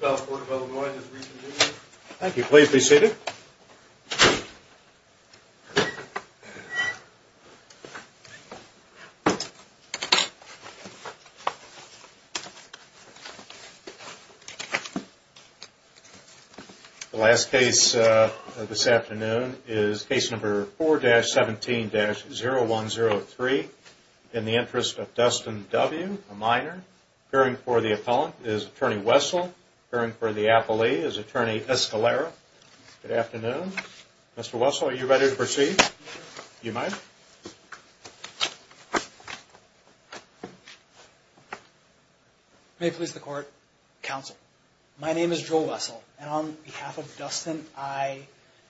The last case this afternoon is case number 4-17-0103. In the interest of Dustyn W., a minor, appearing for the appellant is Attorney Wessel, appearing for the appellee is Attorney Escalera. Good afternoon. Mr. Wessel, are you ready to proceed? You may. May it please the Court, Counsel. My name is Joel Wessel, and on behalf of Dustyn, I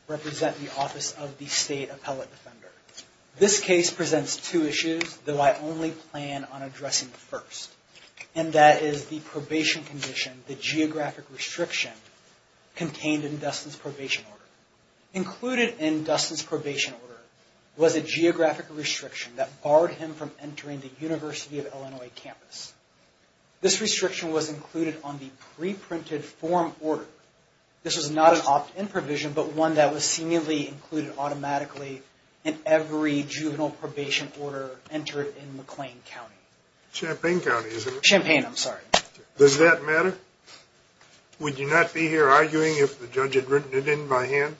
represent the Office of the State Appellate Defender. This case presents two issues, though I only plan on addressing the first. And that is the probation condition, the geographic restriction contained in Dustyn's probation order. Included in Dustyn's probation order was a geographic restriction that barred him from entering the University of Illinois campus. This restriction was included on the pre-printed form order. This was not an opt-in provision, but one that was seemingly included automatically in every juvenile probation order entered in McLean County. Champaign County, isn't it? Champaign, I'm sorry. Does that matter? Would you not be here arguing if the judge had written it in by hand?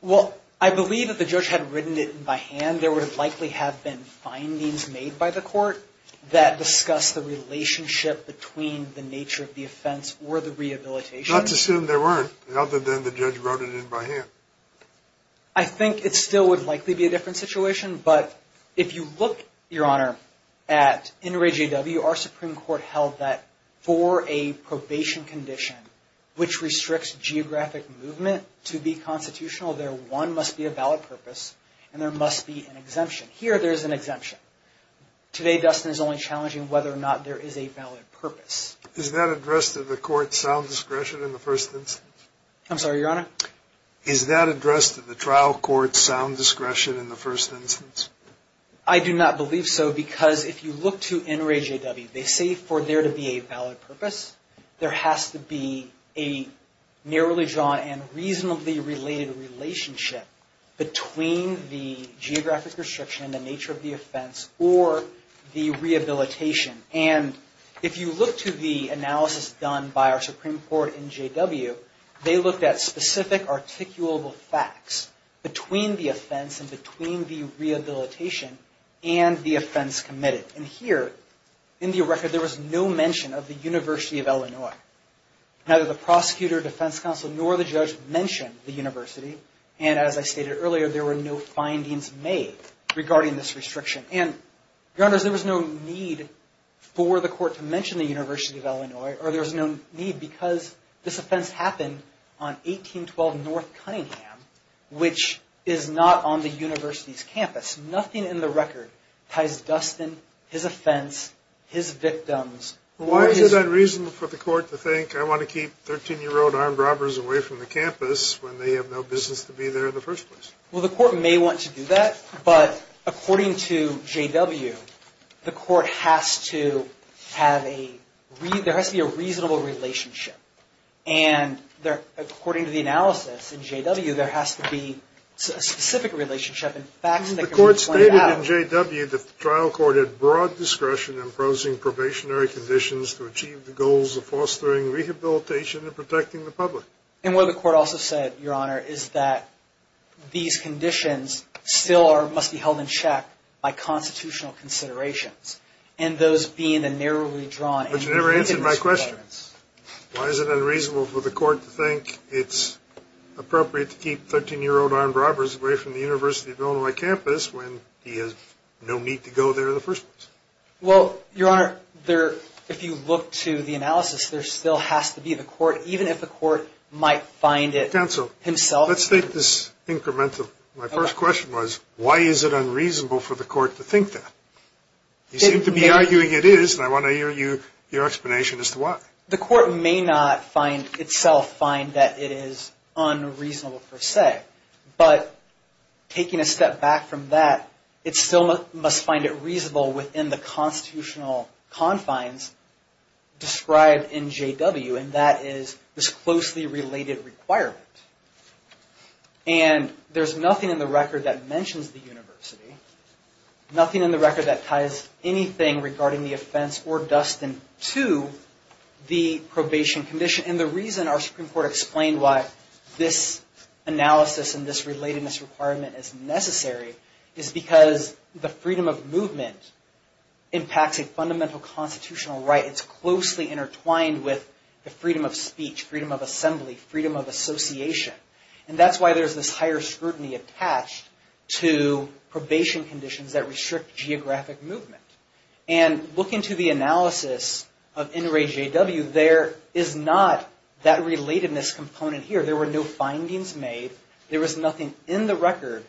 Well, I believe if the judge had written it in by hand, there would likely have been findings made by the Court that discuss the relationship between the nature of the offense or the rehabilitation. Let's assume there weren't, other than the judge wrote it in by hand. I think it still would likely be a different situation. But if you look, Your Honor, at NRAJW, our Supreme Court held that for a probation condition, which restricts geographic movement to be constitutional, there, one, must be a valid purpose, and there must be an exemption. Here, there is an exemption. Today, Dustin is only challenging whether or not there is a valid purpose. Is that addressed to the Court's sound discretion in the first instance? I'm sorry, Your Honor? Is that addressed to the trial court's sound discretion in the first instance? I do not believe so, because if you look to NRAJW, they say for there to be a valid purpose, there has to be a narrowly drawn and reasonably related relationship between the geographic restriction and the nature of the offense or the rehabilitation. And if you look to the analysis done by our Supreme Court in NRAJW, they looked at specific articulable facts between the offense and between the rehabilitation and the offense committed. And here, in the record, there was no mention of the University of Illinois. Neither the prosecutor, defense counsel, nor the judge mentioned the university. And as I stated earlier, there were no findings made regarding this restriction. And, Your Honors, there was no need for the court to mention the University of Illinois, or there was no need because this offense happened on 1812 North Cunningham, which is not on the university's campus. Nothing in the record ties Dustin, his offense, his victims, or his... Why is it unreasonable for the court to think, I want to keep 13-year-old armed robbers away from the campus when they have no business to be there in the first place? Well, the court may want to do that, but according to NRAJW, the court has to have a... there has to be a reasonable relationship. And according to the analysis in NRAJW, there has to be a specific relationship and facts that can be pointed out. The court stated in NRAJW that the trial court had broad discretion in imposing probationary conditions to achieve the goals of fostering rehabilitation and protecting the public. And what the court also said, Your Honor, is that these conditions still must be held in check by constitutional considerations, and those being the narrowly drawn... But you never answered my question. Why is it unreasonable for the court to think it's appropriate to keep 13-year-old armed robbers away from the University of Illinois campus when he has no need to go there in the first place? Well, Your Honor, if you look to the analysis, there still has to be the court, even if the court might find it himself... Counsel, let's take this incremental. My first question was, why is it unreasonable for the court to think that? You seem to be arguing it is, and I want to hear your explanation as to why. The court may not find itself find that it is unreasonable per se, but taking a step back from that, it still must find it reasonable within the constitutional confines described in NJW, and that is this closely related requirement. And there's nothing in the record that mentions the university, nothing in the record that ties anything regarding the offense or Dustin to the probation condition. And the reason our Supreme Court explained why this analysis and this relatedness requirement is necessary is because the freedom of movement impacts a fundamental constitutional right. It's closely intertwined with the freedom of speech, freedom of assembly, freedom of association. And that's why there's this higher scrutiny attached to probation conditions that restrict geographic movement. And looking to the analysis of NJW, there is not that relatedness component here. There were no findings made. There was nothing in the record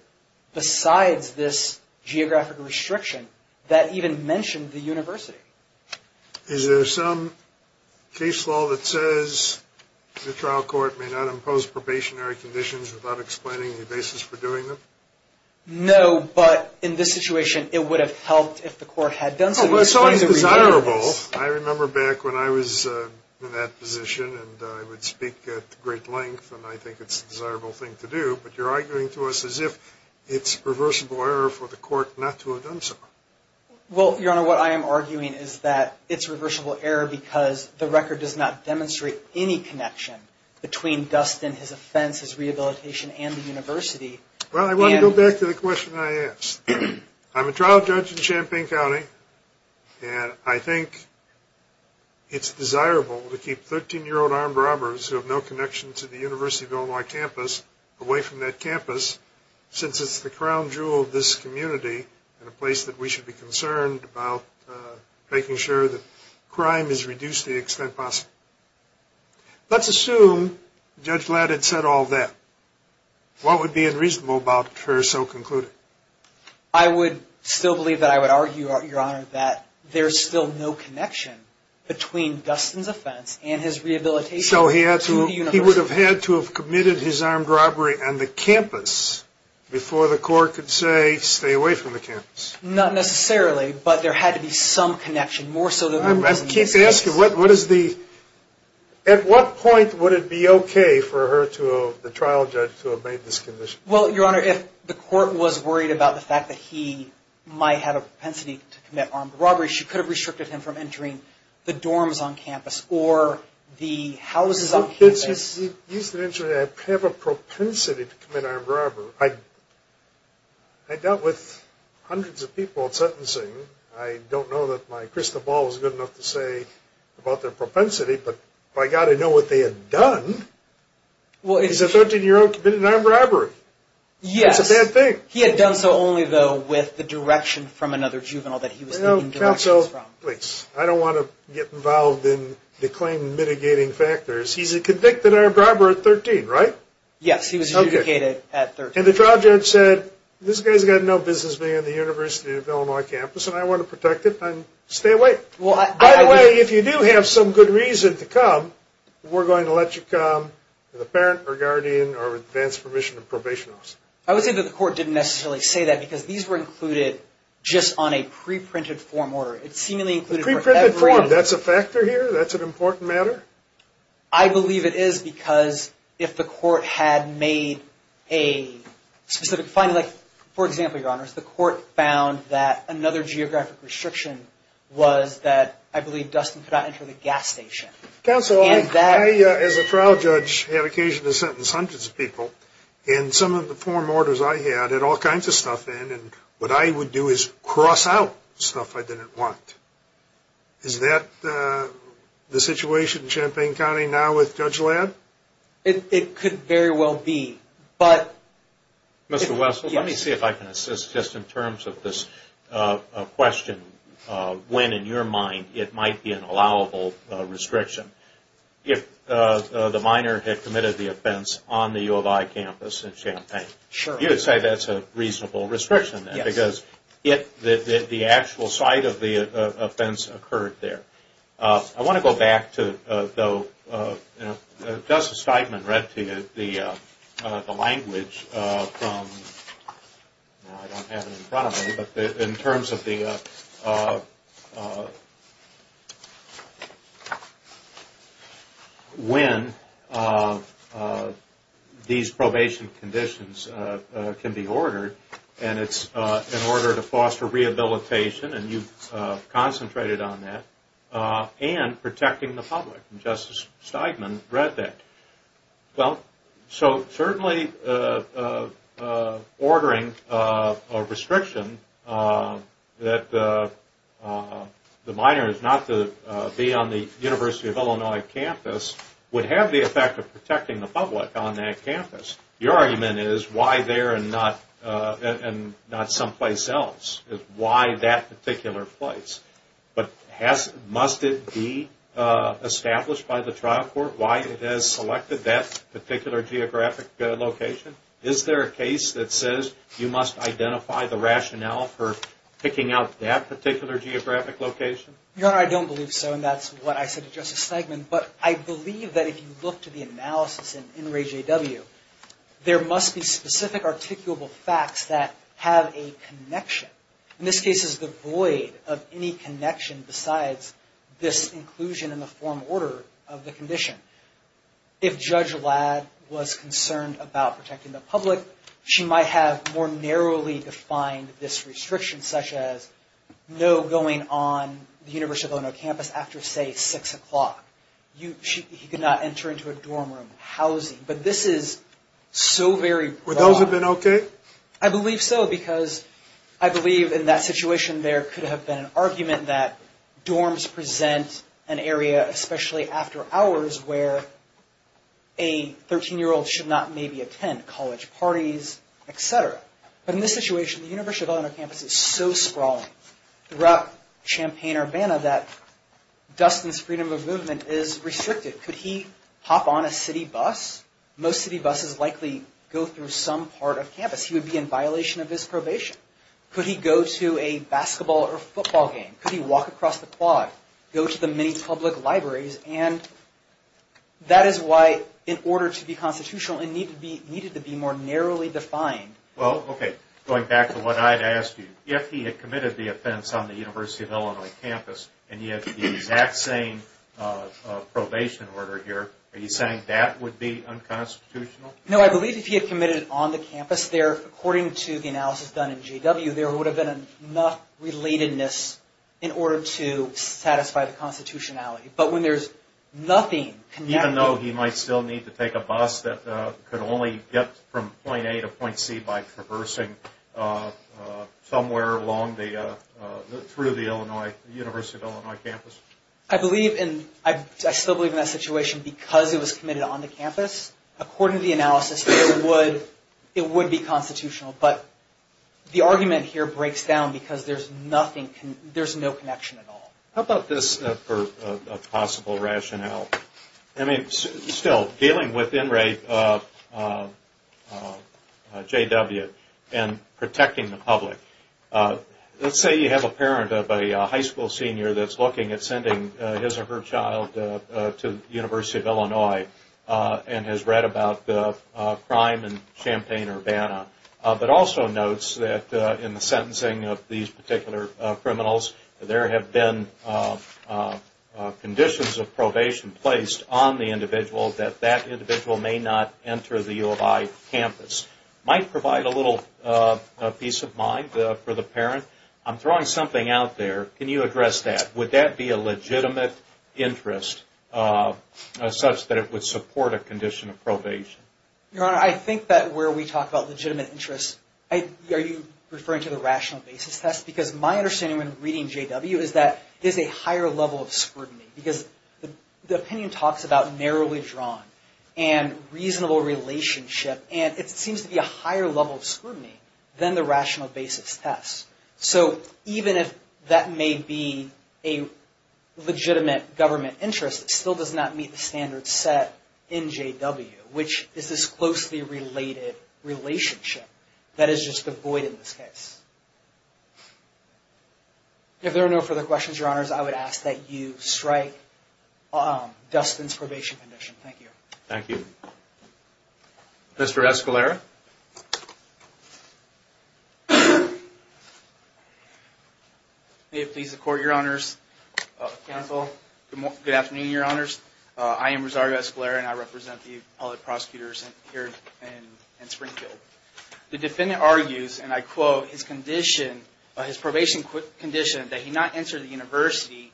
besides this geographic restriction that even mentioned the university. Is there some case law that says the trial court may not impose probationary conditions without explaining the basis for doing them? No, but in this situation, it would have helped if the court had done so. Well, it's always desirable. I remember back when I was in that position, and I would speak at great length, and I think it's a desirable thing to do. But you're arguing to us as if it's reversible error for the court not to have done so. Well, Your Honor, what I am arguing is that it's reversible error because the record does not demonstrate any connection between Dustin, his offense, his rehabilitation, and the university. Well, I want to go back to the question I asked. I'm a trial judge in Champaign County, and I think it's desirable to keep 13-year-old armed robbers who have no connection to the University of Illinois campus away from that campus since it's the crown jewel of this community and a place that we should be concerned about making sure that crime is reduced to the extent possible. Let's assume Judge Ladd had said all that. What would be unreasonable about her so concluding? I would still believe that I would argue, Your Honor, that there's still no connection between Dustin's offense and his rehabilitation to the university. So he would have had to have committed his armed robbery on the campus before the court could say, stay away from the campus. Not necessarily, but there had to be some connection, more so than he doesn't need to. Let me ask you, at what point would it be okay for the trial judge to have made this condition? Well, Your Honor, if the court was worried about the fact that he might have a propensity to commit armed robbery, she could have restricted him from entering the dorms on campus or the houses on campus. He used to have a propensity to commit armed robbery. I dealt with hundreds of people at sentencing. I don't know that my crystal ball is good enough to say about their propensity, but by God, I know what they had done. He's a 13-year-old, committed an armed robbery. Yes. That's a bad thing. He had done so only, though, with the direction from another juvenile that he was seeking directions from. Counsel, please, I don't want to get involved in the claim mitigating factors. He's a convicted armed robber at 13, right? Yes, he was mitigated at 13. And the trial judge said, this guy's got no business being on the University of Illinois campus, and I want to protect it and stay away. By the way, if you do have some good reason to come, we're going to let you come with a parent or guardian or with advanced permission or probation officer. I would say that the court didn't necessarily say that because these were included just on a pre-printed form order. It seemingly included for everyone. Pre-printed form, that's a factor here? That's an important matter? I believe it is because if the court had made a specific finding, like, for example, Your Honors, the court found that another geographic restriction was that, I believe, Dustin could not enter the gas station. Counsel, I, as a trial judge, have occasion to sentence hundreds of people, and some of the form orders I had had all kinds of stuff in, and what I would do is cross out stuff I didn't want. Is that the situation in Champaign County now with Judge Ladd? It could very well be, but... Mr. Wessel, let me see if I can assist just in terms of this question of when, in your mind, it might be an allowable restriction. If the minor had committed the offense on the U of I campus in Champaign, you would say that's a reasonable restriction, because if the actual site of the offense occurred there. I want to go back to, though, Justice Steinman read to you the language from, I don't have it in front of me, but in terms of the, when these probation conditions can be ordered, and it's in order to foster rehabilitation, and you've concentrated on that, and protecting the public, and Justice Steinman read that. Well, so certainly ordering a restriction that the minor is not to be on the U of I campus would have the effect of protecting the public on that campus. Your argument is why there and not someplace else, is why that particular place, but must it be established by the trial court? Why it has selected that particular geographic location? Is there a case that says you must identify the rationale for picking out that particular geographic location? Your Honor, I don't believe so, and that's what I said to Justice Steinman, but I believe that if you look to the analysis in RAEJW, there must be specific articulable facts that have a connection. In this case, it's the void of any connection besides this inclusion in the form order of the condition. If Judge Ladd was concerned about protecting the public, she might have more narrowly defined this restriction, such as no going on the University of Illinois campus after, say, 6 o'clock. He could not enter into a dorm room, housing, but this is so very broad. Would those have been okay? I believe so, because I believe in that situation there could have been an argument that dorms present an area, especially after hours, where a 13-year-old should not maybe attend college parties, etc. But in this situation, the University of Illinois campus is so sprawling throughout Champaign-Urbana that Dustin's freedom of movement is restricted. Could he hop on a city bus? Most city buses likely go through some part of campus. He would be in violation of his probation. Could he go to a basketball or football game? Could he walk across the quad? Go to the many public libraries? And that is why, in order to be constitutional, it needed to be more narrowly defined. Well, okay. Going back to what I had asked you, if he had committed the offense on the University of Illinois campus and he had the exact same probation order here, are you saying that would be unconstitutional? No, I believe if he had committed it on the campus there, according to the analysis done in GW, there would have been enough relatedness in order to satisfy the constitutionality. But when there's nothing connected... Even though he might still need to take a bus that could only get from point A to point C by traversing somewhere through the University of Illinois campus? I believe, and I still believe in that situation, because it was committed on the campus, according to the analysis, it would be constitutional. But the argument here breaks down because there's no connection at all. How about this for a possible rationale? I mean, still, dealing with in rape of JW and protecting the public. Let's say you have a parent of a high school senior that's looking at sending his or her child to the University of Illinois and has read about the crime in Champaign-Urbana, but also notes that in the sentencing of these particular criminals, there have been conditions of probation placed on the individual that that individual may not enter the U of I campus. This might provide a little peace of mind for the parent. I'm throwing something out there. Can you address that? Would that be a legitimate interest such that it would support a condition of probation? Your Honor, I think that where we talk about legitimate interests, are you referring to the rational basis test? Because my understanding when reading JW is that there's a higher level of scrutiny, because the opinion talks about narrowly drawn and reasonable relationship, and it seems to be a higher level of scrutiny than the rational basis test. So even if that may be a legitimate government interest, it still does not meet the standards set in JW, which is this closely related relationship that is just devoid in this case. If there are no further questions, Your Honors, I would ask that you strike Dustin's probation condition. Thank you. Thank you. Mr. Escalera? May it please the Court, Your Honors. Counsel, good afternoon, Your Honors. I am Rosario Escalera, and I represent the appellate prosecutors here in Springfield. The defendant argues, and I quote, his condition, his probation condition, that he not enter the university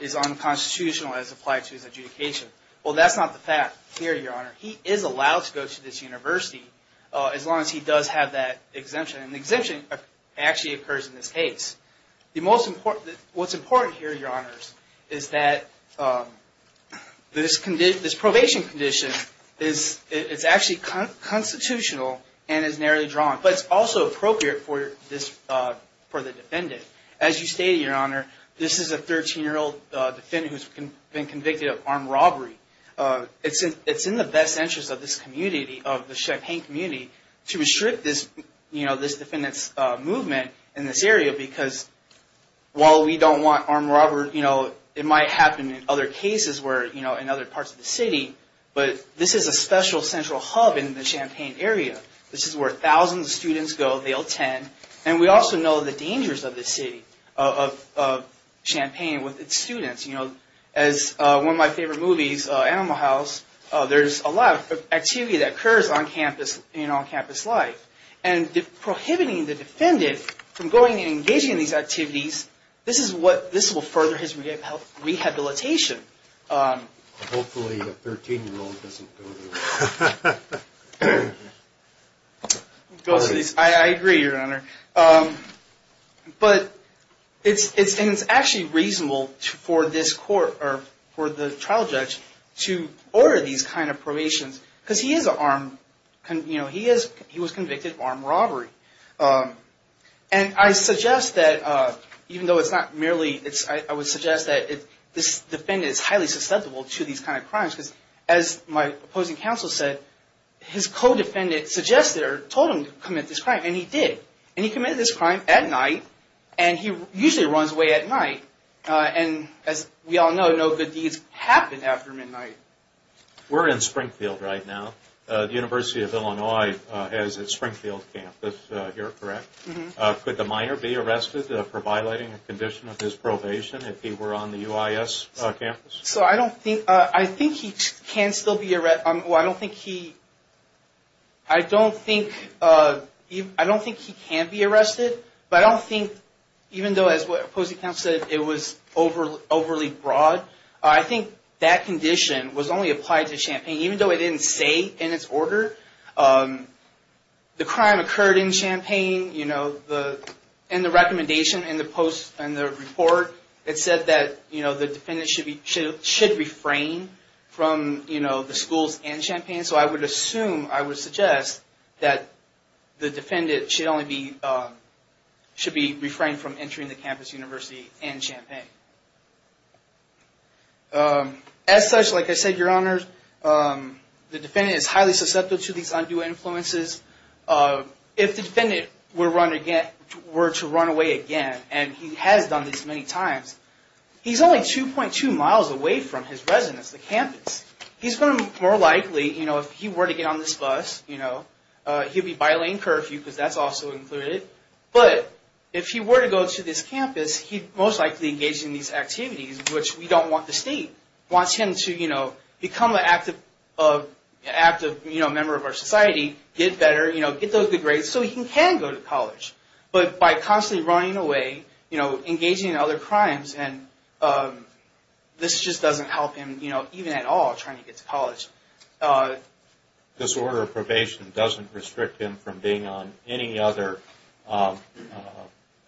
is unconstitutional as applied to his adjudication. Well, that's not the fact here, Your Honor. He is allowed to go to this university as long as he does have that exemption, and the exemption actually occurs in this case. What's important here, Your Honors, is that this probation condition is actually constitutional and is narrowly drawn, but it's also appropriate for the defendant. As you stated, Your Honor, this is a 13-year-old defendant who has been convicted of armed robbery. It's in the best interest of this community, of the Champaign community, to restrict this defendant's movement in this area because while we don't want armed robbery, it might happen in other cases in other parts of the city, but this is a special central hub in the Champaign area. This is where thousands of students go. They'll attend, and we also know the dangers of this city, of Champaign with its students. You know, as one of my favorite movies, Animal House, there's a lot of activity that occurs on campus, in on-campus life, and prohibiting the defendant from going and engaging in these activities, this is what, this will further his rehabilitation. Hopefully, a 13-year-old doesn't go there. I agree, Your Honor, but it's actually reasonable for this court, or for the trial judge, to order these kind of probations because he is an armed, you know, he was convicted of armed robbery. And I suggest that even though it's not merely, I would suggest that this defendant is highly susceptible to these kind of crimes because as my opposing counsel said, his co-defendant suggested or told him to commit this crime, and he did. And he committed this crime at night, and he usually runs away at night, and as we all know, no good deeds happen after midnight. We're in Springfield right now. The University of Illinois has a Springfield campus here, correct? Could the minor be arrested for violating a condition of his probation if he were on the UIS campus? So, I don't think, I think he can still be, I don't think he, I don't think, I don't think he can be arrested, but I don't think, even though as my opposing counsel said, it was overly broad, I think that condition was only applied to Champaign, even though it didn't say in its order. The crime occurred in Champaign, you know, and the recommendation in the post, in the report, it said that, you know, the defendant should be, should refrain from, you know, the schools in Champaign. So I would assume, I would suggest that the defendant should only be, should be refrained from entering the campus university in Champaign. As such, like I said, your honors, the defendant is highly susceptible to these undue influences. If the defendant were run again, were to run away again, and he has done this many times, he's only 2.2 miles away from his residence, the campus. He's going to more likely, you know, if he were to get on this bus, you know, he'd be violating curfew, because that's also included, but if he were to go to this campus, he'd most likely engage in these activities, which we don't want the state. We want him to, you know, become an active member of our society, get better, you know, get those good grades, so he can go to college. But by constantly running away, you know, engaging in other crimes, and this just doesn't help him, you know, even at all, trying to get to college. This order of probation doesn't restrict him from being on any other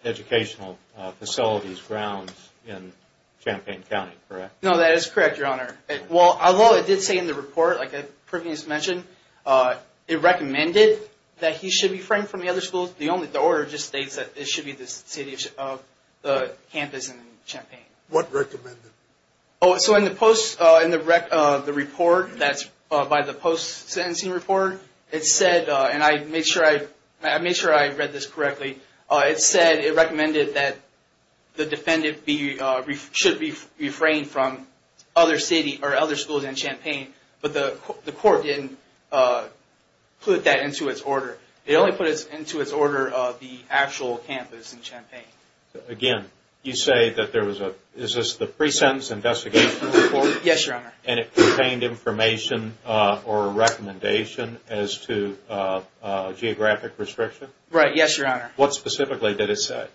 educational facilities, grounds in Champaign County, correct? No, that is correct, your honor. Well, although it did say in the report, like I previously mentioned, it recommended that he should be refrained from the other schools, the order just states that it should be the city of the campus in Champaign. What recommended? Oh, so in the post, in the report, that's by the post-sentencing report, it said, and I made sure I read this correctly, it said it recommended that the defendant be, should be refrained from other city or other schools in Champaign, but the court didn't put that into its order. It only put it into its order of the actual campus in Champaign. Again, you say that there was a, is this the pre-sentence investigation report? Yes, your honor. And it contained information or a recommendation as to geographic restriction? Right, yes, your honor. What specifically did it say?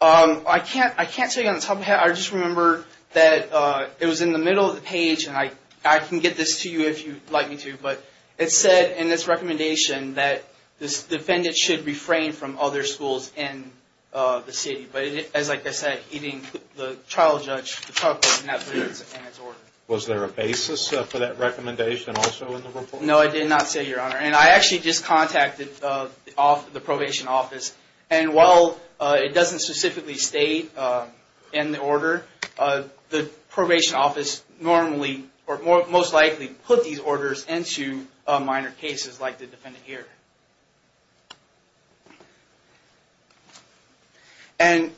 I can't tell you on the top of my head. I just remember that it was in the middle of the page, and I can get this to you if you'd like me to, but it said in this recommendation that this defendant should refrain from other schools in the city, but as I said, the trial judge, the trial court did not put it in its order. Was there a basis for that recommendation also in the report? No, it did not say, your honor, and I actually just contacted the probation office, and while it doesn't specifically state in the order, the probation office normally or most likely put these orders into minor cases like the defendant here. And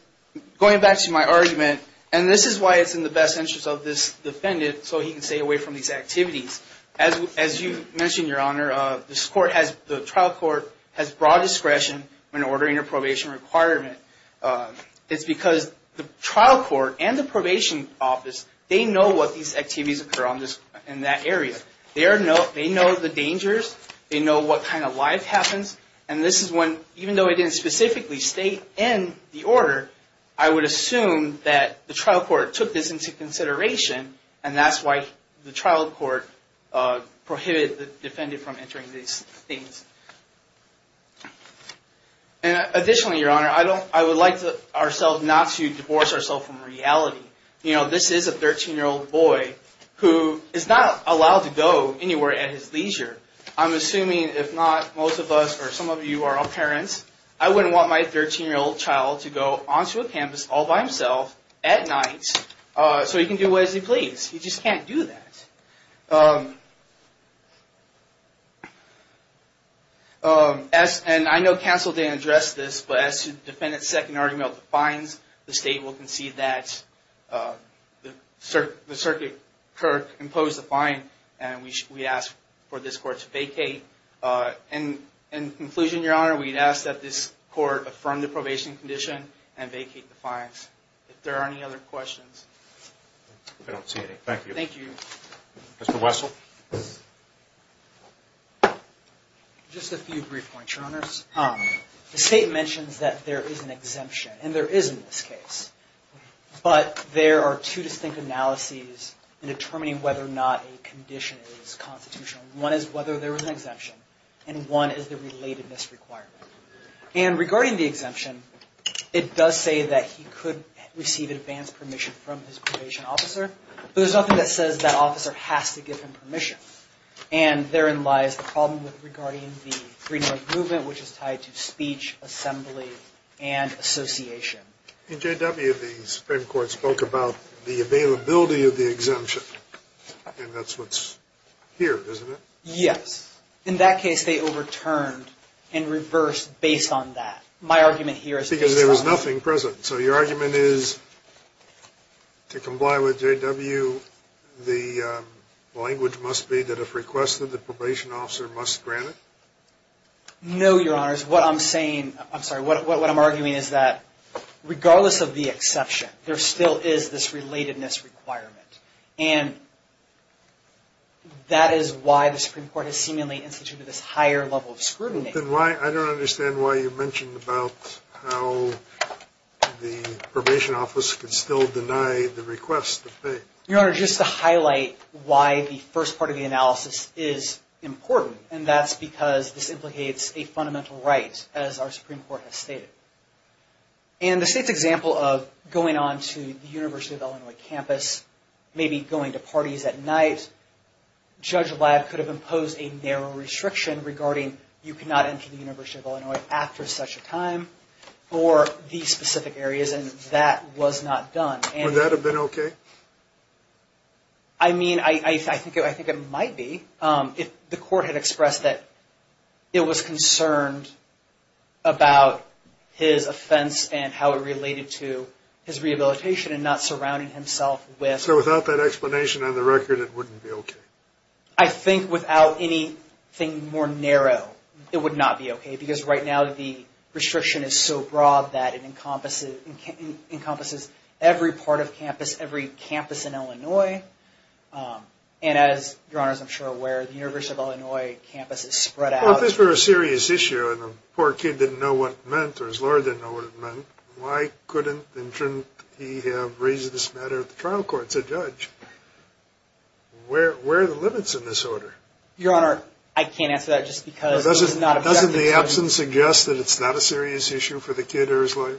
going back to my argument, and this is why it's in the best interest of this defendant so he can stay away from these activities. As you mentioned, your honor, the trial court has broad discretion when ordering a probation requirement. It's because the trial court and the probation office, they know what these activities occur in that area. They know the dangers, they know what kind of life happens, and this is when, even though it didn't specifically state in the order, I would assume that the trial court took this into consideration, and that's why the trial court prohibited the defendant from entering these things. Additionally, your honor, I would like ourselves not to divorce ourselves from reality. You know, this is a 13-year-old boy who is not allowed to go anywhere at his leisure. I'm assuming, if not most of us or some of you are all parents, I wouldn't want my 13-year-old child to go onto a campus all by himself at night so he can do what he pleases. He just can't do that. And I know counsel didn't address this, but as the defendant's second argument defines, the state will concede that the circuit clerk imposed the fine, and we ask for this court to vacate. In conclusion, your honor, we'd ask that this court affirm the probation condition and vacate the fines. If there are any other questions. I don't see any. Thank you. Thank you. Mr. Wessel? Just a few brief points, your honors. The state mentions that there is an exemption, and there is in this case, but there are two distinct analyses in determining whether or not a condition is constitutional. One is whether there was an exemption, and one is the relatedness requirement. And regarding the exemption, it does say that he could receive advanced permission from his probation officer, but there's nothing that says that officer has to give him permission. And therein lies the problem regarding the Greenberg movement, which is tied to speech, assembly, and association. In J.W., the Supreme Court spoke about the availability of the exemption, and that's what's here, isn't it? Yes. In that case, they overturned and reversed based on that. My argument here is based on that. Because there was nothing present. So your argument is to comply with J.W., the language must be that if requested, the probation officer must grant it? No, your honors. What I'm saying, I'm sorry, what I'm arguing is that regardless of the exception, there still is this relatedness requirement. And that is why the Supreme Court has seemingly instituted this higher level of scrutiny. I don't understand why you mentioned about how the probation officer can still deny the request to pay. Your honor, just to highlight why the first part of the analysis is important, and that's because this implicates a fundamental right, as our Supreme Court has stated. In the State's example of going on to the University of Illinois campus, maybe going to parties at night, Judge Ladd could have imposed a narrow restriction regarding you cannot enter the University of Illinois after such a time, or these specific areas, and that was not done. Would that have been okay? I mean, I think it might be. The court had expressed that it was concerned about his offense and how it related to his rehabilitation, and not surrounding himself with... So without that explanation on the record, it wouldn't be okay? I think without anything more narrow, it would not be okay, because right now the restriction is so broad that it encompasses every part of campus, every campus in Illinois. And as your honors are sure aware, the University of Illinois campus is spread out... Well, if this were a serious issue, and the poor kid didn't know what it meant, or his lawyer didn't know what it meant, why couldn't he have raised this matter at the trial court? It's a judge. Where are the limits in this order? Your honor, I can't answer that just because... Doesn't the absence suggest that it's not a serious issue for the kid or his lawyer?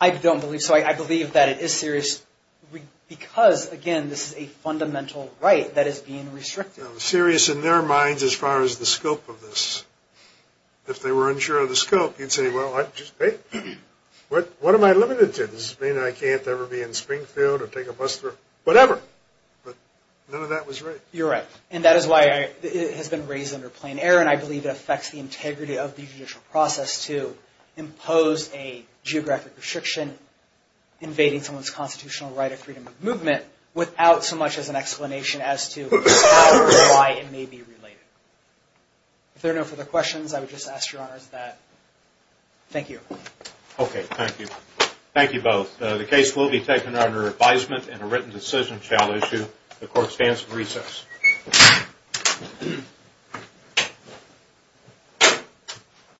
I don't believe so. I believe that it is serious because, again, this is a fundamental right that is being restricted. Serious in their minds as far as the scope of this. If they were unsure of the scope, you'd say, well, what am I limited to? Does this mean I can't ever be in Springfield or take a bus through... Whatever. But none of that was right. You're right. And that is why it has been raised under plain error, and I believe it affects the integrity of the judicial process to impose a geographic restriction invading someone's constitutional right of freedom of movement without so much as an explanation as to how or why it may be related. If there are no further questions, I would just ask your honors that. Thank you. Okay, thank you. Thank you both. The case will be taken under advisement and a written decision shall issue. The court stands recessed.